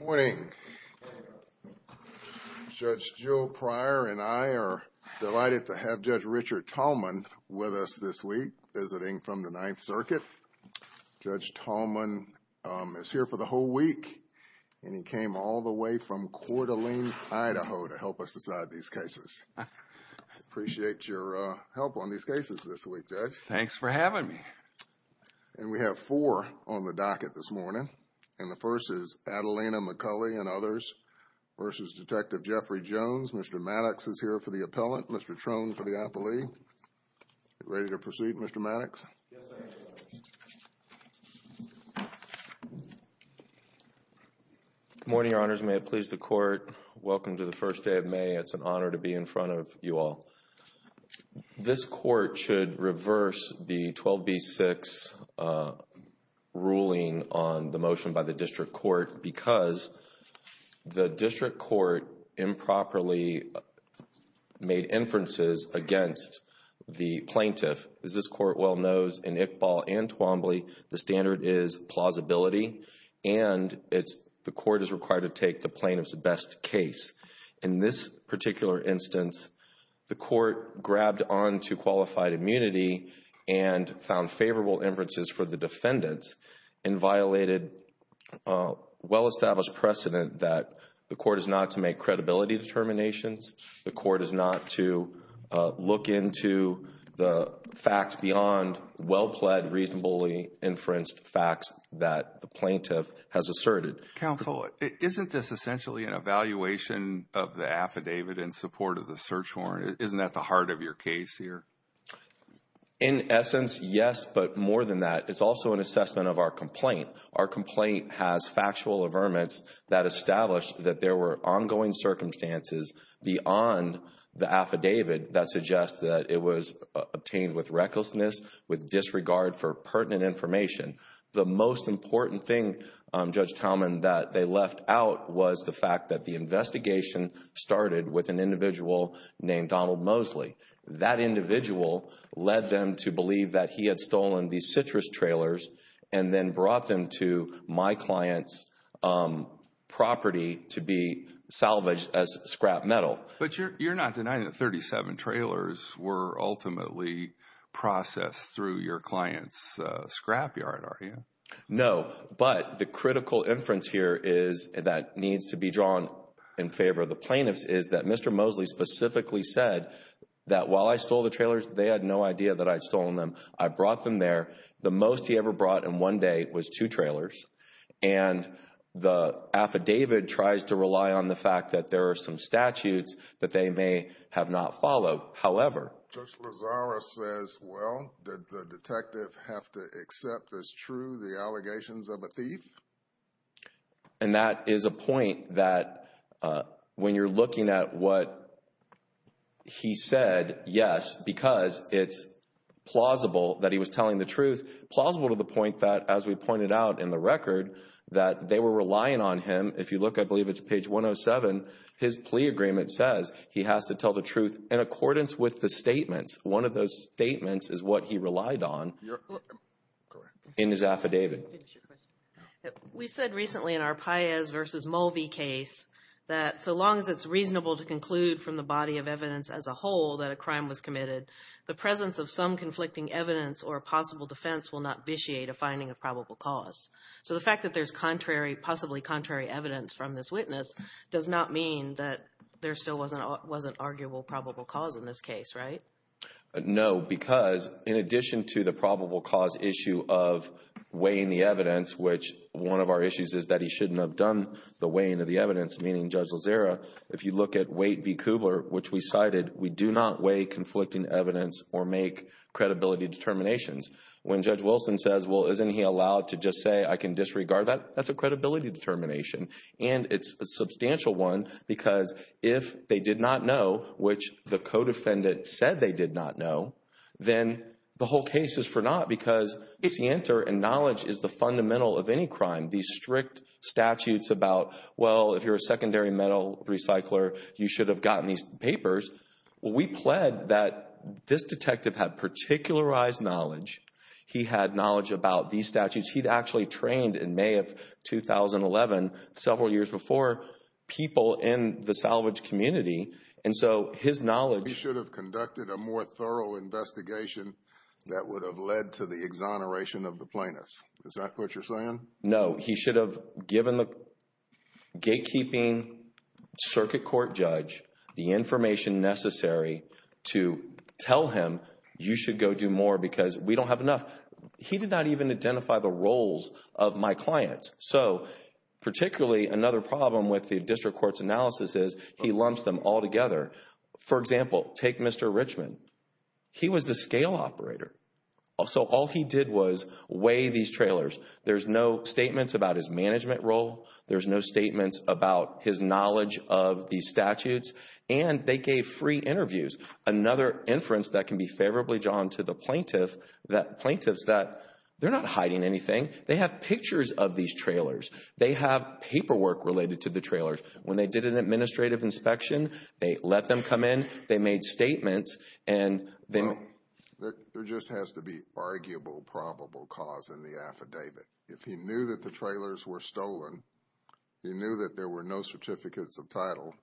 Morning. Judge Joe Pryor and I are delighted to have Judge Richard Tallman with us this week visiting from the Ninth Circuit. Judge Tallman is here for the whole week and he came all the way from Coeur d'Alene, Idaho to help us decide these cases. I appreciate your help on these cases this week, Judge. Thanks for having me. And we have four on the docket this morning. And the first is Adelina McCulley and others versus Detective Jeffrey Jones. Mr. Maddox is here for the appellant. Mr. Trone for the appellee. Ready to proceed, Mr. Maddox? Yes, I am, Your Honor. Good morning, Your Honors. May it please the Court. Welcome to the first day of May. It's an honor to be in front of you all. This Court should reverse the 12b-6 ruling on the motion by the District Court because the District Court improperly made inferences against the plaintiff. As this Court well knows, in Iqbal and Twombly, the standard is plausibility and the Court is required to take the plaintiff's best case. In this particular instance, the Court grabbed on to qualified immunity and found favorable inferences for the defendants and violated well-established precedent that the Court is not to make credibility determinations, the Court is not to look into the facts beyond well-pled, reasonably inferenced facts that the plaintiff has asserted. Counsel, isn't this essentially an evaluation of the affidavit in support of the search warrant? Isn't that the heart of your case here? In essence, yes, but more than that, it's also an assessment of our complaint. Our complaint has factual affirmance that established that there were ongoing circumstances beyond the affidavit that suggests that it was obtained with recklessness, with disregard for pertinent information. The most important thing, Judge Tauman, that they left out was the fact that the investigation started with an individual named Donald Mosley. That individual led them to believe that he had stolen the citrus trailers and then brought them to my client's property to be salvaged as scrap metal. But you're not denying that 37 trailers were ultimately processed through your client's scrapyard, are you? No, but the critical inference here that needs to be drawn in favor of the plaintiffs is that Mr. Mosley specifically said that while I stole the trailers, they had no idea that I'd stolen them. I brought them there. The most he ever brought in one day was two trailers, and the affidavit tries to rely on the fact that there are some statutes that they may have not followed. However... Judge Lozada says, well, did the detective have to accept as true the allegations of a thief? And that is a point that when you're looking at what he said, yes, because it's plausible that he was telling the truth, plausible to the point that, as we pointed out in the record, that they were relying on him. If you look, I believe it's page 107. His plea agreement says he has to tell the truth in accordance with the statements. One of those statements is what he relied on in his affidavit. We said recently in our Paez v. Mulvey case that so long as it's reasonable to conclude from the body of evidence as a whole that a crime was committed, the presence of some conflicting evidence or a possible defense will not vitiate a finding of probable cause. So the fact that there's possibly contrary evidence from this witness does not mean that there still wasn't arguable probable cause in this case, right? No, because in addition to the probable cause issue of weighing the evidence, which one of our issues is that he shouldn't have done the weighing of the evidence, meaning Judge Lozada, if you look at Waite v. Kubler, which we cited, we do not weigh conflicting evidence or make credibility determinations. When Judge Wilson says, well, isn't he allowed to just say, I can disregard that, that's a credibility determination. And it's a substantial one, because if they did not know, which the co-defendant said they did not know, then the whole case is for naught, because the answer and knowledge is the fundamental of any crime. These strict statutes about, well, if you're a secondary metal recycler, you should have gotten these papers. Well, we pled that this detective had particularized knowledge. He had knowledge about these statutes. He'd actually trained in May of 2011, several years before, people in the salvage community. And so his knowledge... He should have conducted a more thorough investigation that would have led to the exoneration of No, he should have given the gatekeeping circuit court judge the information necessary to tell him, you should go do more because we don't have enough. He did not even identify the roles of my clients. So particularly another problem with the district court's analysis is he lumps them all together. For example, take Mr. Richmond. He was the scale operator. So all he did was weigh these trailers. There's no statements about his management role. There's no statements about his knowledge of these statutes. And they gave free interviews. Another inference that can be favorably drawn to the plaintiff, that plaintiffs, that they're not hiding anything. They have pictures of these trailers. They have paperwork related to the trailers. When they did an administrative inspection, they let them come in, they made statements, and then... There just has to be arguable probable cause in the affidavit. If he knew that the trailers were stolen, he knew that there were no certificates of title,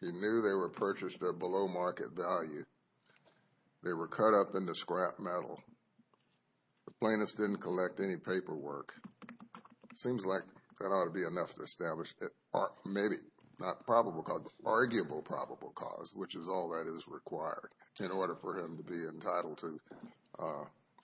he knew they were purchased at below market value, they were cut up into scrap metal, the plaintiffs didn't collect any paperwork. It seems like that ought to be enough to establish maybe not probable cause, but arguable probable cause, which is all that is required in order for him to be entitled to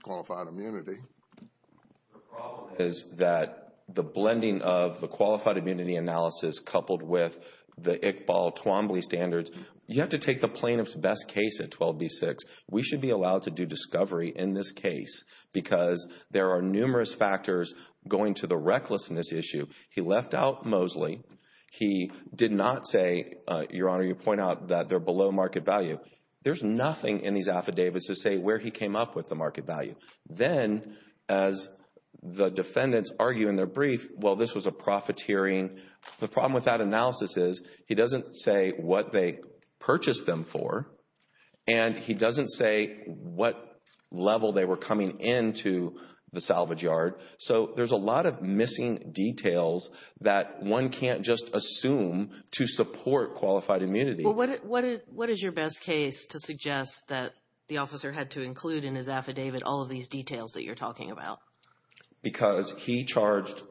qualified immunity. The problem is that the blending of the qualified immunity analysis coupled with the Iqbal Twombly standards, you have to take the plaintiff's best case at 12B6. We should be allowed to do discovery in this case because there are numerous factors going to the He did not say, Your Honor, you point out that they're below market value. There's nothing in these affidavits to say where he came up with the market value. Then, as the defendants argue in their brief, well, this was a profiteering... The problem with that analysis is he doesn't say what they purchased them for, and he doesn't say what level they were coming into the salvage yard. So there's a lot of missing details that one can't just assume to support qualified immunity. Well, what is your best case to suggest that the officer had to include in his affidavit all of these details that you're talking about? Because he charged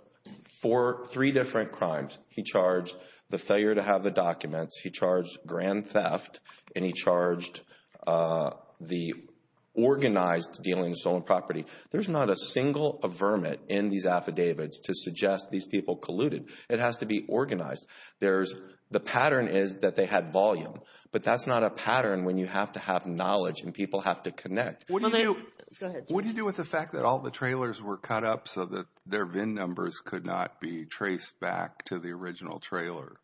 for three different crimes. He charged the failure to have the documents. He charged grand theft, and he charged the organized dealing stolen property. There's not a single vermin in these affidavits to suggest these people colluded. It has to be organized. The pattern is that they had volume, but that's not a pattern when you have to have knowledge and people have to connect. What do you do with the fact that all the trailers were cut up so that their VIN numbers could not be traced back to the original trailers?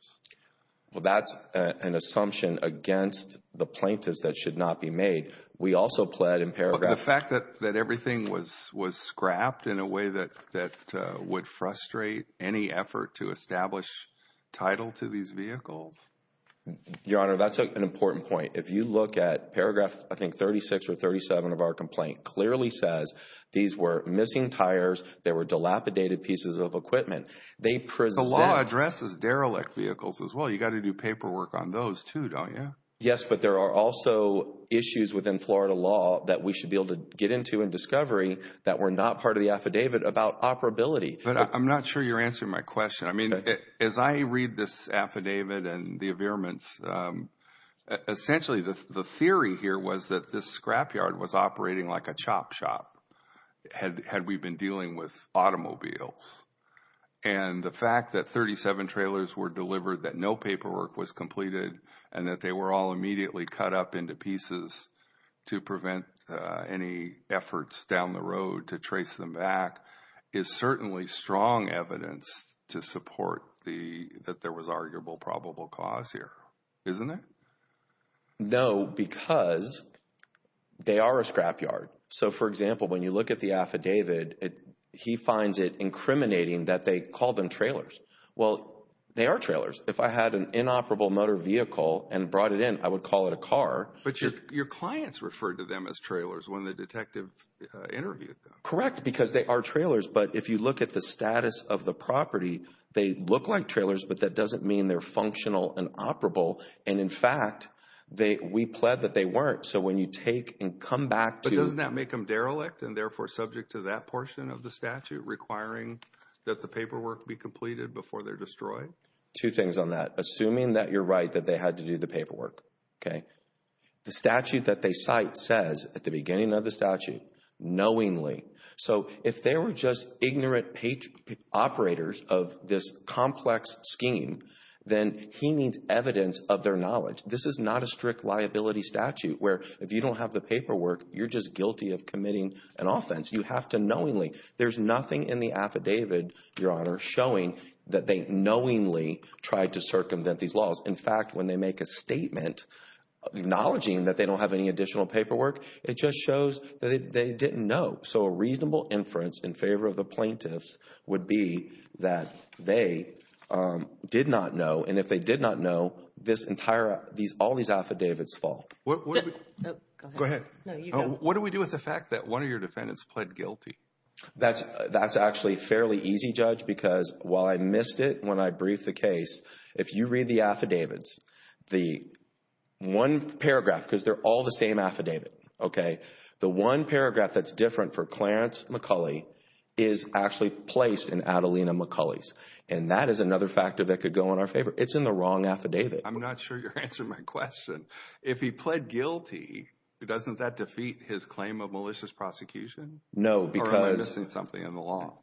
Well, that's an assumption against the plaintiffs that should not be made. We also pled in paragraph... ...that everything was scrapped in a way that would frustrate any effort to establish title to these vehicles. Your Honor, that's an important point. If you look at paragraph, I think, 36 or 37 of our complaint clearly says these were missing tires. There were dilapidated pieces of equipment. The law addresses derelict vehicles as well. You got to do paperwork on those too, don't you? Yes, but there are also issues within Florida law that we should be able to get into in discovery that were not part of the affidavit about operability. But I'm not sure you're answering my question. I mean, as I read this affidavit and the availments, essentially, the theory here was that this scrapyard was operating like a chop shop had we been dealing with automobiles. And the fact that 37 trailers were delivered, that no paperwork was completed, and that they were all immediately cut up into pieces to prevent any efforts down the road to trace them back is certainly strong evidence to support that there was arguable probable cause here, isn't it? No, because they are a scrapyard. So, for example, when you look at the affidavit, he finds it incriminating that they call them trailers. Well, they are trailers. If I had an inoperable motor vehicle and brought it in, I would call it a car. But your clients referred to them as trailers when the detective interviewed them. Correct, because they are trailers. But if you look at the status of the property, they look like trailers, but that doesn't mean they're functional and operable. And in fact, we pled that they weren't. So when you take and come back to... But doesn't that make them derelict and therefore subject to that portion of the statute requiring that the paperwork be completed before they're destroyed? Two things on that. Assuming that you're right, that they had to do the paperwork. Okay, the statute that they cite says at the beginning of the statute, knowingly. So if they were just ignorant operators of this complex scheme, then he needs evidence of their knowledge. This is not a strict liability statute where if you don't have the paperwork, you're just guilty of committing an offense. You have to knowingly. There's nothing in the affidavit, Your Honor, showing that they knowingly tried to circumvent these laws. In fact, when they make a statement acknowledging that they don't have any additional paperwork, it just shows that they didn't know. So a reasonable inference in favor of the plaintiffs would be that they did not know. And if they did not know, all these affidavits fall. Go ahead. What do we do with the fact that one of your defendants pled guilty? That's actually fairly easy, Judge, because while I missed it when I briefed the case, if you read the affidavits, the one paragraph, because they're all the same affidavit, okay, the one paragraph that's different for Clarence McCulley is actually placed in Adelina McCulley's. And that is another factor that could go in our favor. It's in the wrong affidavit. I'm not sure you're answering my question. If he pled guilty, doesn't that defeat his claim of malicious prosecution? No, because... Or am I missing something in the law?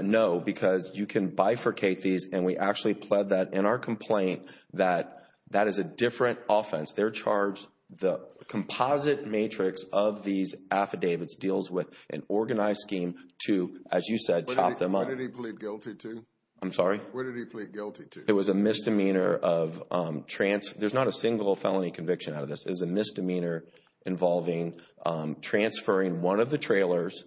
No, because you can bifurcate these and we actually pled that in our complaint that that is a different offense. They're charged, the composite matrix of these affidavits deals with an organized scheme to, as you said, chop them up. Where did he plead guilty to? I'm sorry? Where did he plead guilty to? It was a misdemeanor of trans... There's not a single felony conviction out of this. It was a misdemeanor involving transferring one of the trailers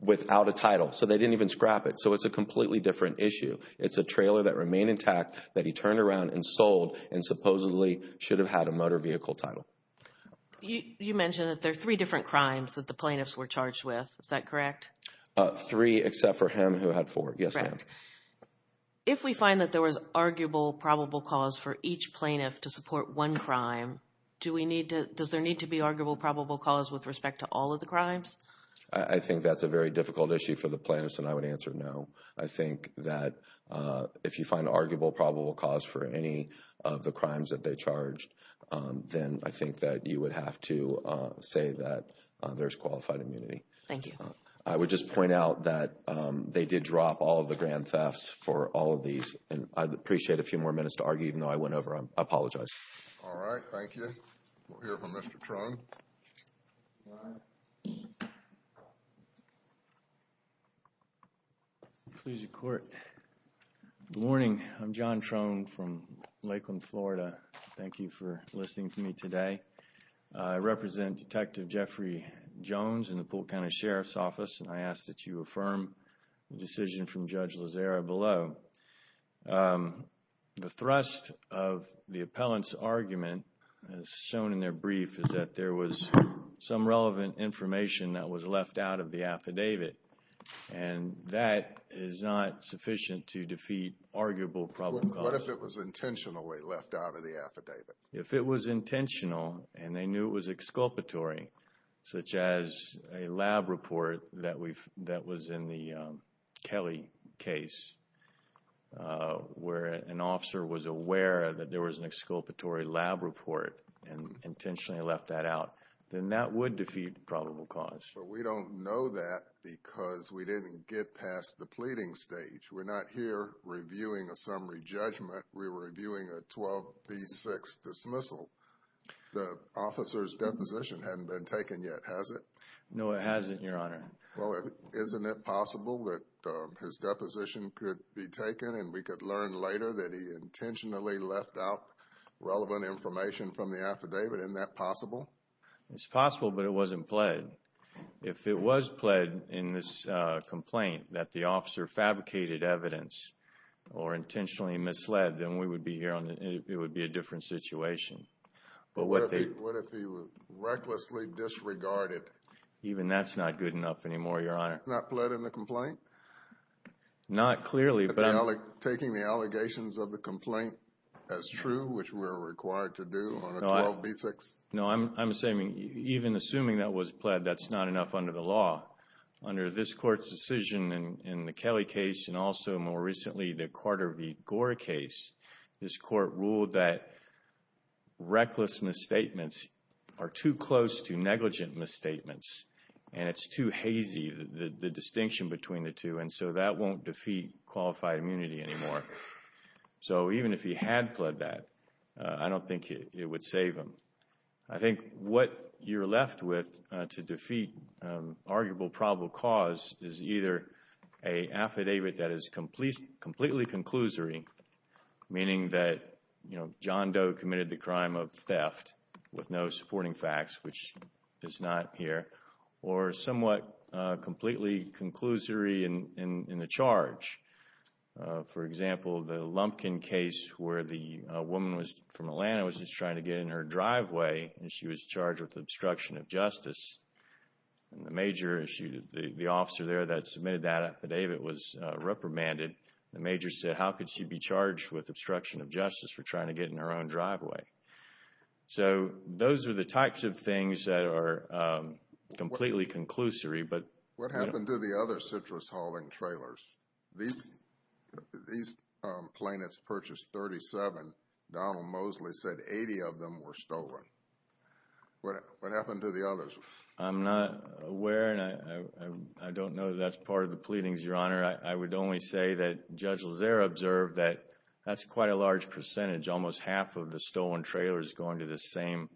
without a title. So they didn't even scrap it. So it's a completely different issue. It's a trailer that remained intact that he turned around and sold and supposedly should have had a motor vehicle title. You mentioned that there are three different crimes that the plaintiffs were charged with. Is that correct? Three, except for him who had four. Yes, ma'am. If we find that there was arguable probable cause for each plaintiff to support one crime, does there need to be arguable probable cause with respect to all of the crimes? I think that's a very difficult issue for the plaintiffs, and I would answer no. I think that if you find arguable probable cause for any of the crimes that they charged, then I think that you would have to say that there's qualified immunity. Thank you. I would just point out that they did drop all of the grand thefts for all of these, and I'd appreciate a few more minutes to argue, even though I went over them. I apologize. All right. Thank you. We'll hear from Mr. Truong. Good morning. I'm John Truong from Lakeland, Florida. Thank you for listening to me today. I represent Detective Jeffrey Jones in the Poole County Sheriff's Office, and I ask that you affirm the decision from Judge Lozera below. The thrust of the appellant's argument, as shown in their brief, is that there was some relevant information that was left out of the affidavit, and that is not sufficient to defeat arguable probable cause. What if it was intentionally left out of the affidavit? If it was intentional and they knew it was exculpatory, such as a lab report that was in the Kelly case, where an officer was aware that there was an exculpatory lab report and intentionally left that out, then that would defeat probable cause. But we don't know that because we didn't get past the pleading stage. We're not here reviewing a summary judgment. We're reviewing a 12B6 dismissal. The officer's deposition hadn't been taken yet, has it? No, it hasn't, Your Honor. Well, isn't it possible that his deposition could be taken, and we could learn later that he intentionally left out the affidavit? Isn't that possible? It's possible, but it wasn't pled. If it was pled in this complaint that the officer fabricated evidence or intentionally misled, then it would be a different situation. What if he was recklessly disregarded? Even that's not good enough anymore, Your Honor. Not pled in the complaint? Not clearly, but... Taking the allegations of the complaint as true, which we're required to do on a 12B6? No, I'm saying even assuming that was pled, that's not enough under the law. Under this Court's decision in the Kelly case and also more recently the Carter v. Gore case, this Court ruled that reckless misstatements are too close to negligent misstatements, and it's too hazy, the distinction between the two, and so that won't defeat qualified immunity anymore. So even if he had pled that, I don't think it would save him. I think what you're left with to defeat arguable probable cause is either an affidavit that is completely conclusory, meaning that John Doe committed the crime of theft with no supporting facts, which is not here, or somewhat completely conclusory in the charge. For example, the Lumpkin case where the woman from Atlanta was just trying to get in her driveway and she was charged with obstruction of justice, and the major, the officer there that submitted that affidavit was reprimanded. The major said, how could she be charged with obstruction of justice for trying to get in her own driveway? So those are the types of things that are completely conclusory, but... What happened to the other citrus hauling trailers? These plaintiffs purchased 37. Donald Mosley said 80 of them were stolen. What happened to the others? I'm not aware, and I don't know that that's part of the pleadings, Your Honor. I would only say that Judge Lazare observed that that's quite a large percentage, almost half of the stolen trailers going to the same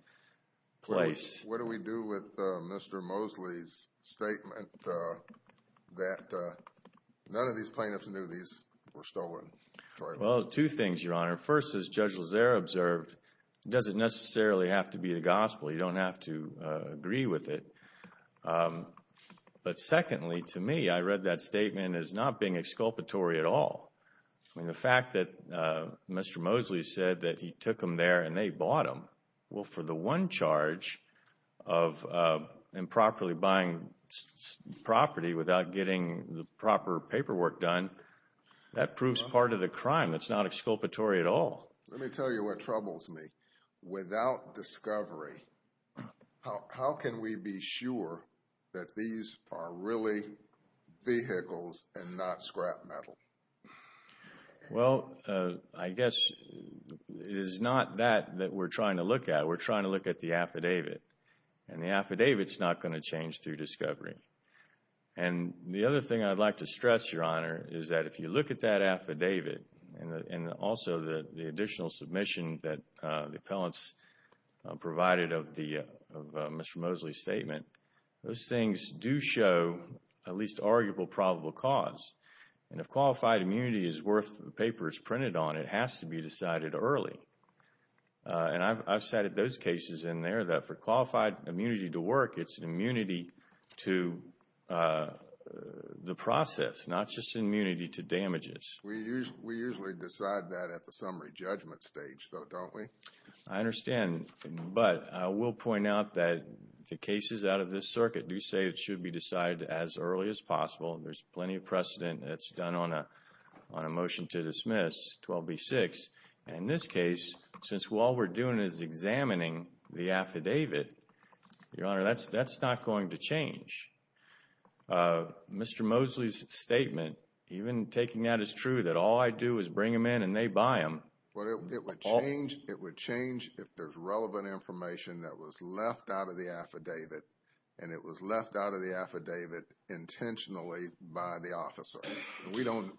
place. What do we do with Mr. Mosley's statement that none of these plaintiffs knew these were stolen? Well, two things, Your Honor. First, as Judge Lazare observed, it doesn't necessarily have to be the gospel. You don't have to agree with it. But secondly, to me, I read that statement as not being exculpatory at all. I mean, the fact that Mr. Mosley said that he took them there and they bought them, well, for the one charge of improperly buying property without getting the proper paperwork done, that proves part of the crime. That's not exculpatory at all. Let me tell you what troubles me. Without discovery, how can we be sure that these are really vehicles and not scrap metal? Well, I guess it is not that that we're trying to look at. We're trying to look at the affidavit. And the affidavit is not going to change through discovery. And the other thing I'd like to stress, Your Honor, is that if you look at that affidavit and also the additional submission that the appellants provided of Mr. Mosley's statement, those things do show at least arguable probable cause. And if qualified immunity is worth the papers printed on, it has to be decided early. And I've cited those cases in there that for qualified immunity to work, it's immunity to the process, not just immunity to damages. We usually decide that at the summary judgment stage, though, don't we? I understand. But I will point out that the cases out of this circuit do say it should be decided as early as possible. There's plenty of precedent that's done on a motion to dismiss 12B-6. And in this case, since all we're doing is examining the affidavit, Your Honor, that's not going to change. Mr. Mosley's statement, even taking that as true, that all I do is bring them in and they buy them. Well, it would change if there's relevant information that was left out of the affidavit. And it was left out of the affidavit intentionally by the officer. We don't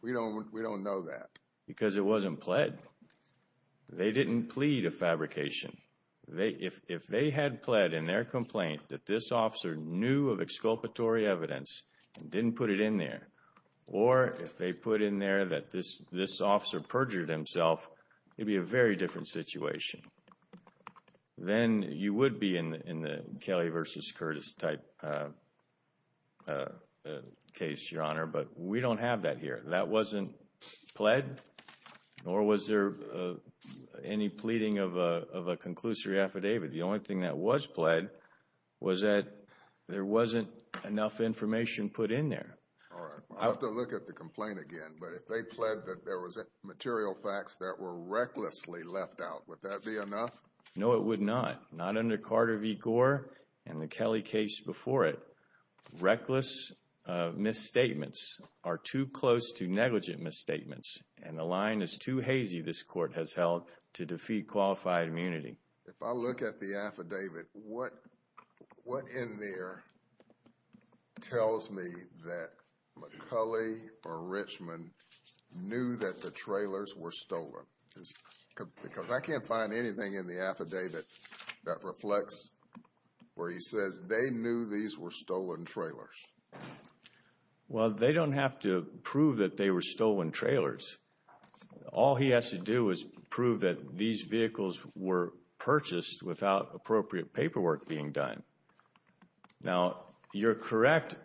know that. Because it wasn't pled. They didn't plead a fabrication. If they had pled in their complaint that this officer knew of exculpatory evidence and didn't put it in there, or if they put in there that this officer perjured himself, it'd be a very different situation. Then you would be in the Kelly versus Curtis type case, Your Honor. But we don't have that here. That wasn't pled, nor was there any pleading of a conclusory affidavit. The only thing that was pled was that there wasn't enough information put in there. All right. I'll have to look at the complaint again. But if they pled that there was material facts that were recklessly left out, would that be enough? No, it would not. Not under Carter v. Gore and the Kelly case before it. Reckless misstatements are too close to negligent misstatements. And the line is too hazy, this court has held, to defeat qualified immunity. If I look at the affidavit, what in there tells me that McCulley or Richmond knew that the trailers were stolen? Because I can't find anything in the affidavit that reflects where he says they knew these were stolen trailers. Well, they don't have to prove that they were stolen trailers. All he has to do is prove that these vehicles were purchased without appropriate paperwork being done. Now, you're correct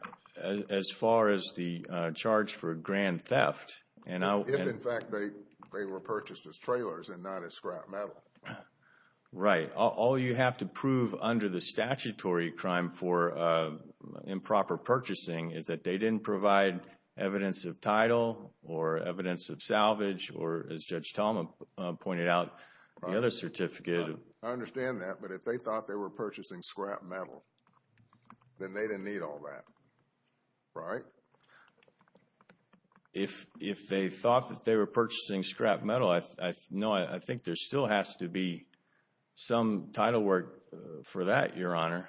as far as the charge for grand theft. If, in fact, they were purchased as trailers and not as scrap metal. Right. All you have to prove under the statutory crime for improper purchasing is that they didn't provide evidence of title or evidence of salvage or, as Judge Talma pointed out, the other certificate. I understand that. But if they thought they were purchasing scrap metal, then they didn't need all that. Right? Right. If they thought that they were purchasing scrap metal, no, I think there still has to be some title work for that, Your Honor.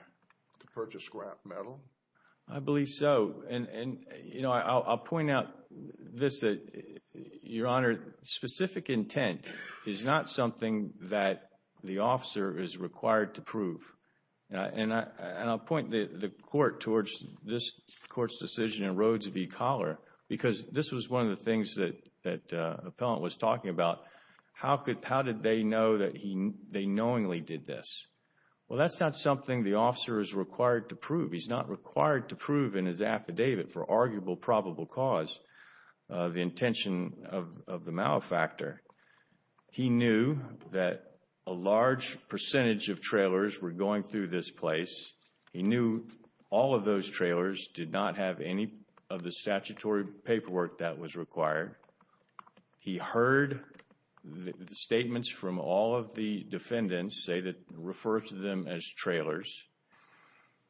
To purchase scrap metal? I believe so. And, you know, I'll point out this. Your Honor, specific intent is not something that the officer is required to prove. And I'll point the court towards this Court's decision in Rhodes v. Collar because this was one of the things that the appellant was talking about. How did they know that they knowingly did this? Well, that's not something the officer is required to prove. He's not required to prove in his affidavit for arguable probable cause the intention of the malefactor. He knew that a large percentage of trailers were going through this place. He knew all of those trailers did not have any of the statutory paperwork that was required. He heard the statements from all of the defendants say that refer to them as trailers.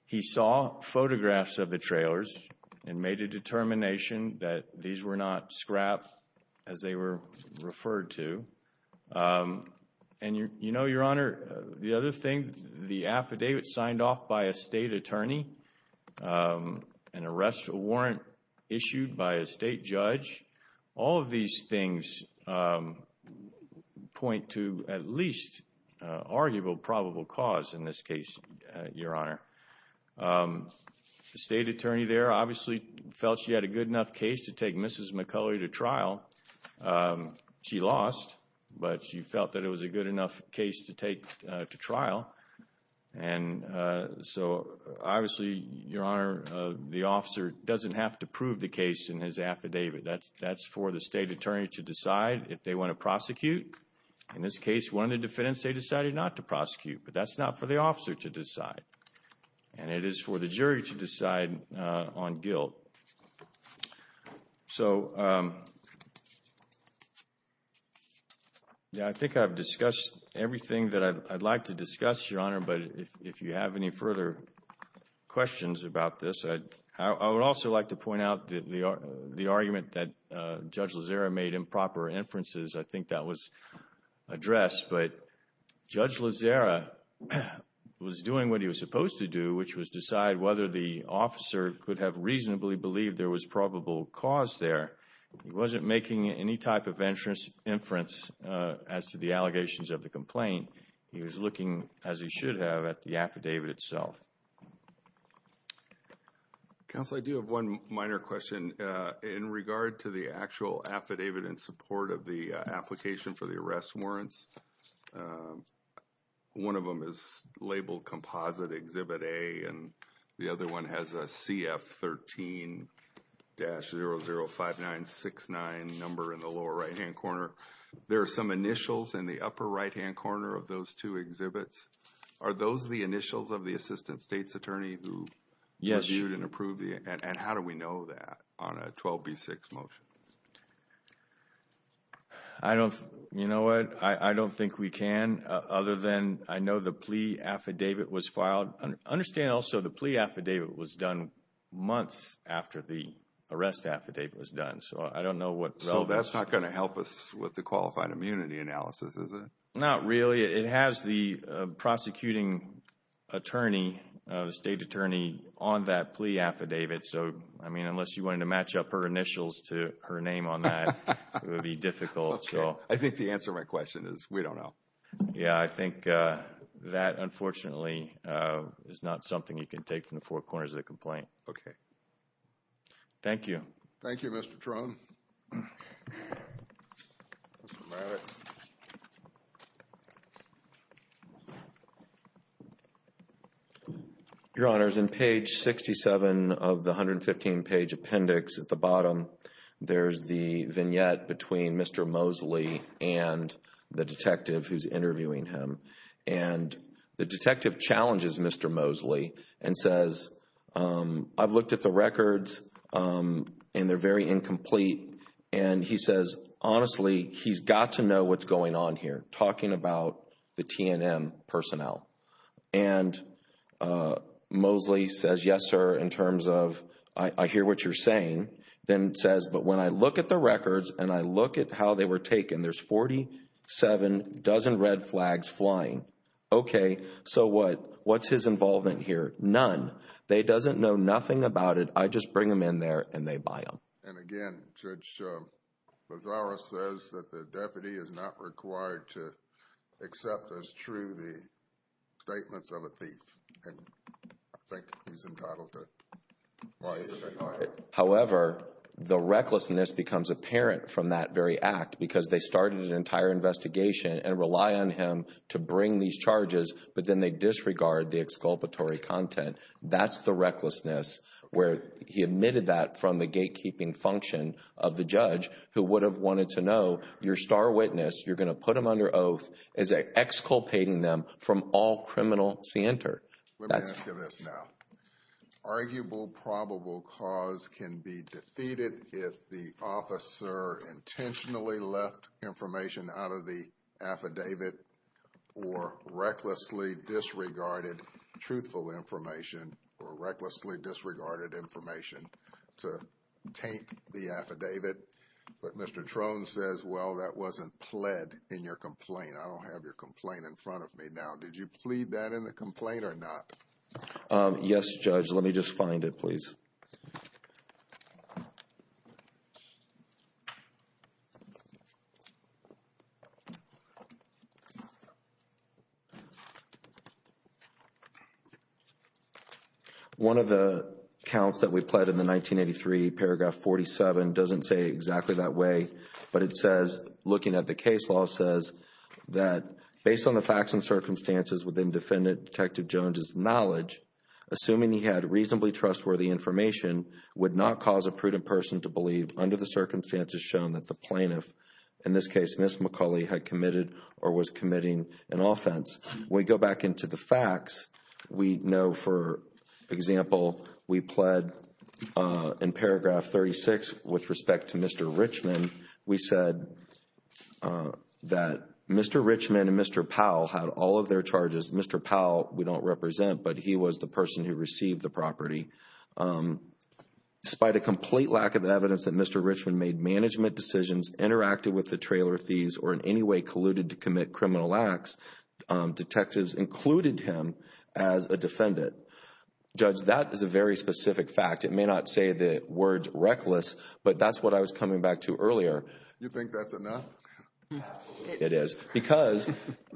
He saw photographs of the trailers and made a determination that these were not scrap as they were referred to. And, you know, Your Honor, the other thing, the affidavit signed off by a state attorney, an arrest warrant issued by a state judge, all of these things point to at least arguable probable cause in this case, Your Honor. The state attorney there obviously felt she had a good enough case to take Mrs. McCulloch to trial. She lost, but she felt that it was a good enough case to take to trial. And so obviously, Your Honor, the officer doesn't have to prove the case in his affidavit. That's for the state attorney to decide if they want to prosecute. In this case, one of the defendants, they decided not to prosecute, but that's not for the officer to decide. And it is for the jury to decide on guilt. So, yeah, I think I've discussed everything that I'd like to discuss, Your Honor. But if you have any further questions about this, I would also like to point out that the argument that Judge Lozera made improper inferences, I think that was addressed. But Judge Lozera was doing what he was supposed to do, which was decide whether the officer could have reasonably believed there was probable cause there. He wasn't making any type of inference as to the allegations of the complaint. He was looking, as he should have, at the affidavit itself. Counsel, I do have one minor question. In regard to the actual affidavit in support of the application for the arrest warrants, one of them is labeled Composite Exhibit A, and the other one has a CF13-005969 number in the lower right-hand corner. There are some initials in the upper right-hand corner of those two exhibits. Are those the initials of the assistant state's attorney who reviewed and approved it? And how do we know that on a 12B6 motion? I don't, you know what, I don't think we can, other than I know the plea affidavit was filed. Understand also the plea affidavit was done months after the arrest affidavit was done, so I don't know what relevance. So that's not going to help us with the qualified immunity analysis, is it? Not really. It has the prosecuting attorney, state attorney, on that plea affidavit. So, I mean, unless you wanted to match up her initials to her name on that, it would be difficult. Okay. I think the answer to my question is we don't know. Yeah, I think that, unfortunately, is not something you can take from the four corners of the complaint. Okay. Thank you. Thank you, Mr. Trone. Mr. Moritz. Your Honors, in page 67 of the 115-page appendix at the bottom, there's the vignette between Mr. Mosley and the detective who's interviewing him. And the detective challenges Mr. Mosley and says, I've looked at the records and they're very incomplete. And he says, honestly, he's got to know what's going on here, talking about the TNM personnel. And Mosley says, yes, sir, in terms of I hear what you're saying. Then says, but when I look at the records and I look at how they were taken, there's 47 dozen red flags flying. Okay. So what's his involvement here? None. They doesn't know nothing about it. I just bring them in there and they buy them. And again, Judge Bazzaro says that the deputy is not required to accept as true the statements of a thief. And I think he's entitled to. However, the recklessness becomes apparent from that very act because they started an entire investigation and rely on him to bring these charges, but then they disregard the exculpatory content. That's the recklessness where he admitted that from the gatekeeping function of the judge who would have wanted to know your star witness, you're going to put them under oath as exculpating them from all criminal center. Let me ask you this now. Arguable probable cause can be defeated if the officer intentionally left information out of the affidavit or recklessly disregarded truthful information or recklessly disregarded information to taint the affidavit. But Mr. Trone says, well, that wasn't pled in your complaint. I don't have your complaint in front of me now. Did you plead that in the complaint or not? Let me just find it, please. One of the counts that we pled in the 1983, paragraph 47 doesn't say exactly that way, but it says, looking at the case law, says that based on the facts and circumstances within Defendant Detective Jones's knowledge, assuming he had reasonably trustworthy information would not cause a prudent person to believe under the circumstances shown that the plaintiff, in this case, Ms. McCauley, had committed or was committing an offense. When we go back into the facts, we know, for example, we pled in paragraph 36 with respect to Mr. Richman, we said that Mr. Richman and Mr. Powell had all of their charges. Mr. Powell, we don't represent, but he was the person who received the property. Despite a complete lack of evidence that Mr. Richman made management decisions, interacted with the trailer thieves, or in any way colluded to commit criminal acts, detectives included him as a defendant. Judge, that is a very specific fact. It may not say the words reckless, but that's what I was coming back to earlier. You think that's enough? It is. Because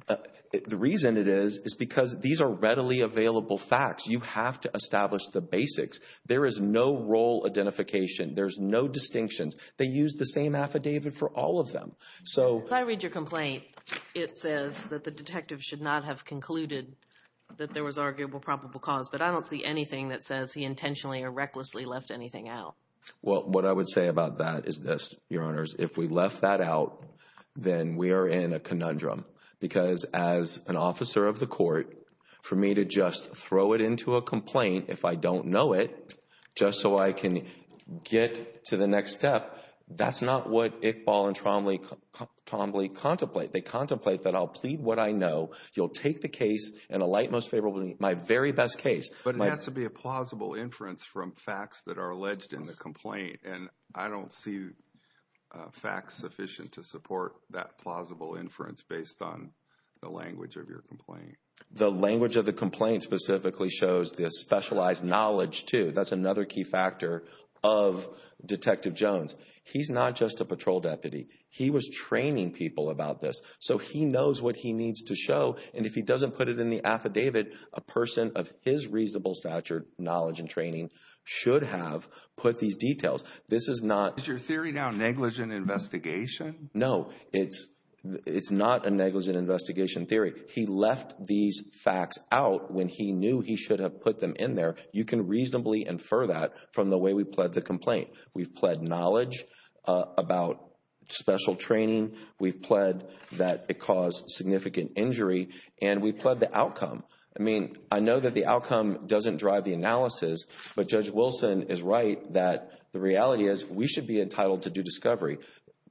the reason it is, is because these are readily available facts. You have to establish the basics. There is no role identification. There's no distinctions. They use the same affidavit for all of them. When I read your complaint, it says that the detective should not have concluded that there was arguable probable cause. But I don't see anything that says he intentionally or recklessly left anything out. Well, what I would say about that is this, Your Honors. If we left that out, then we are in a conundrum. Because as an officer of the court, for me to just throw it into a complaint, if I don't know it, just so I can get to the next step, that's not what Iqbal and Trombley contemplate. They contemplate that I'll plead what I know. You'll take the case and alight most favorably, my very best case. But it has to be a plausible inference from facts that are alleged in the complaint. And I don't see facts sufficient to support that plausible inference based on the language of your complaint. The language of the complaint specifically shows the specialized knowledge, too. That's another key factor of Detective Jones. He's not just a patrol deputy. He was training people about this. So he knows what he needs to show. And if he doesn't put it in the affidavit, a person of his reasonable stature, knowledge, and training should have put these details. This is not... Is your theory now negligent investigation? No, it's not a negligent investigation theory. He left these facts out when he knew he should have put them in there. You can reasonably infer that from the way we pled the complaint. We've pled knowledge about special training. We've pled that it caused significant injury. And we've pled the outcome. I mean, I know that the outcome doesn't drive the analysis. But Judge Wilson is right that the reality is we should be entitled to do discovery.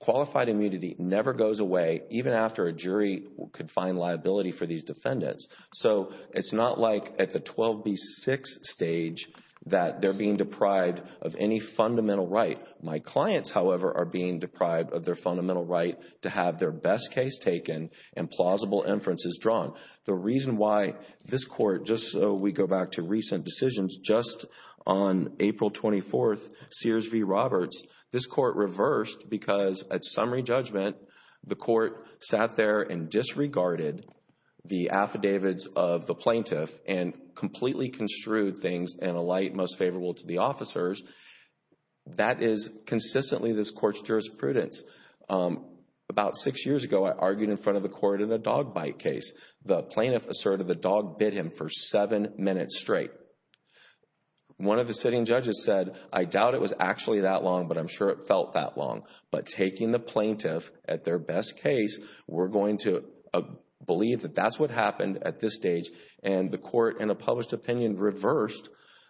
Qualified immunity never goes away, even after a jury could find liability for these defendants. So it's not like at the 12B6 stage that they're being deprived of any fundamental right. My clients, however, are being deprived of their fundamental right to have their best case taken and plausible inferences drawn. The reason why this court, just so we go back to recent decisions, just on April 24th, Sears v. Roberts, this court reversed because at summary judgment, the court sat there and disregarded the affidavits of the plaintiff and completely construed things in a light most favorable to the officers. That is consistently this court's jurisprudence. About six years ago, I argued in front of the court in a dog bite case. The plaintiff asserted the dog bit him for seven minutes straight. One of the sitting judges said, I doubt it was actually that long, but I'm sure it felt that long. But taking the plaintiff at their best case, we're going to believe that that's what happened at this stage. And the court, in a published opinion, reversed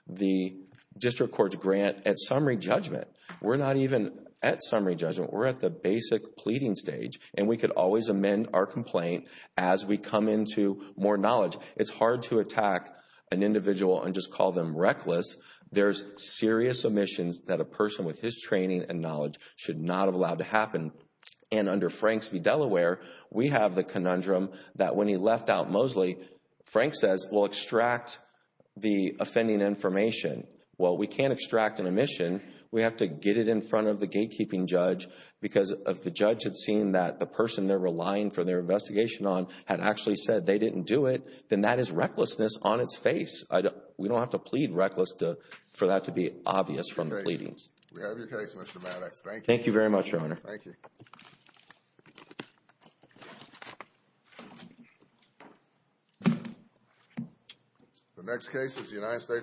the district court's grant at summary judgment. We're not even at summary judgment. We're at the basic pleading stage. And we could always amend our complaint as we come into more knowledge. It's hard to attack an individual and just call them reckless. There's serious omissions that a person with his training and knowledge should not have allowed to happen. And under Franks v. Delaware, we have the conundrum that when he left out Mosley, Frank says, we'll extract the offending information. Well, we can't extract an omission. We have to get it in front of the gatekeeping judge because if the judge had seen that the person they're relying for their investigation on had actually said they didn't do it, then that is recklessness on its face. We don't have to plead reckless for that to be obvious from the pleadings. We have your case, Mr. Maddox. Thank you. Thank you very much, Your Honor. Thank you. The next case is the United States.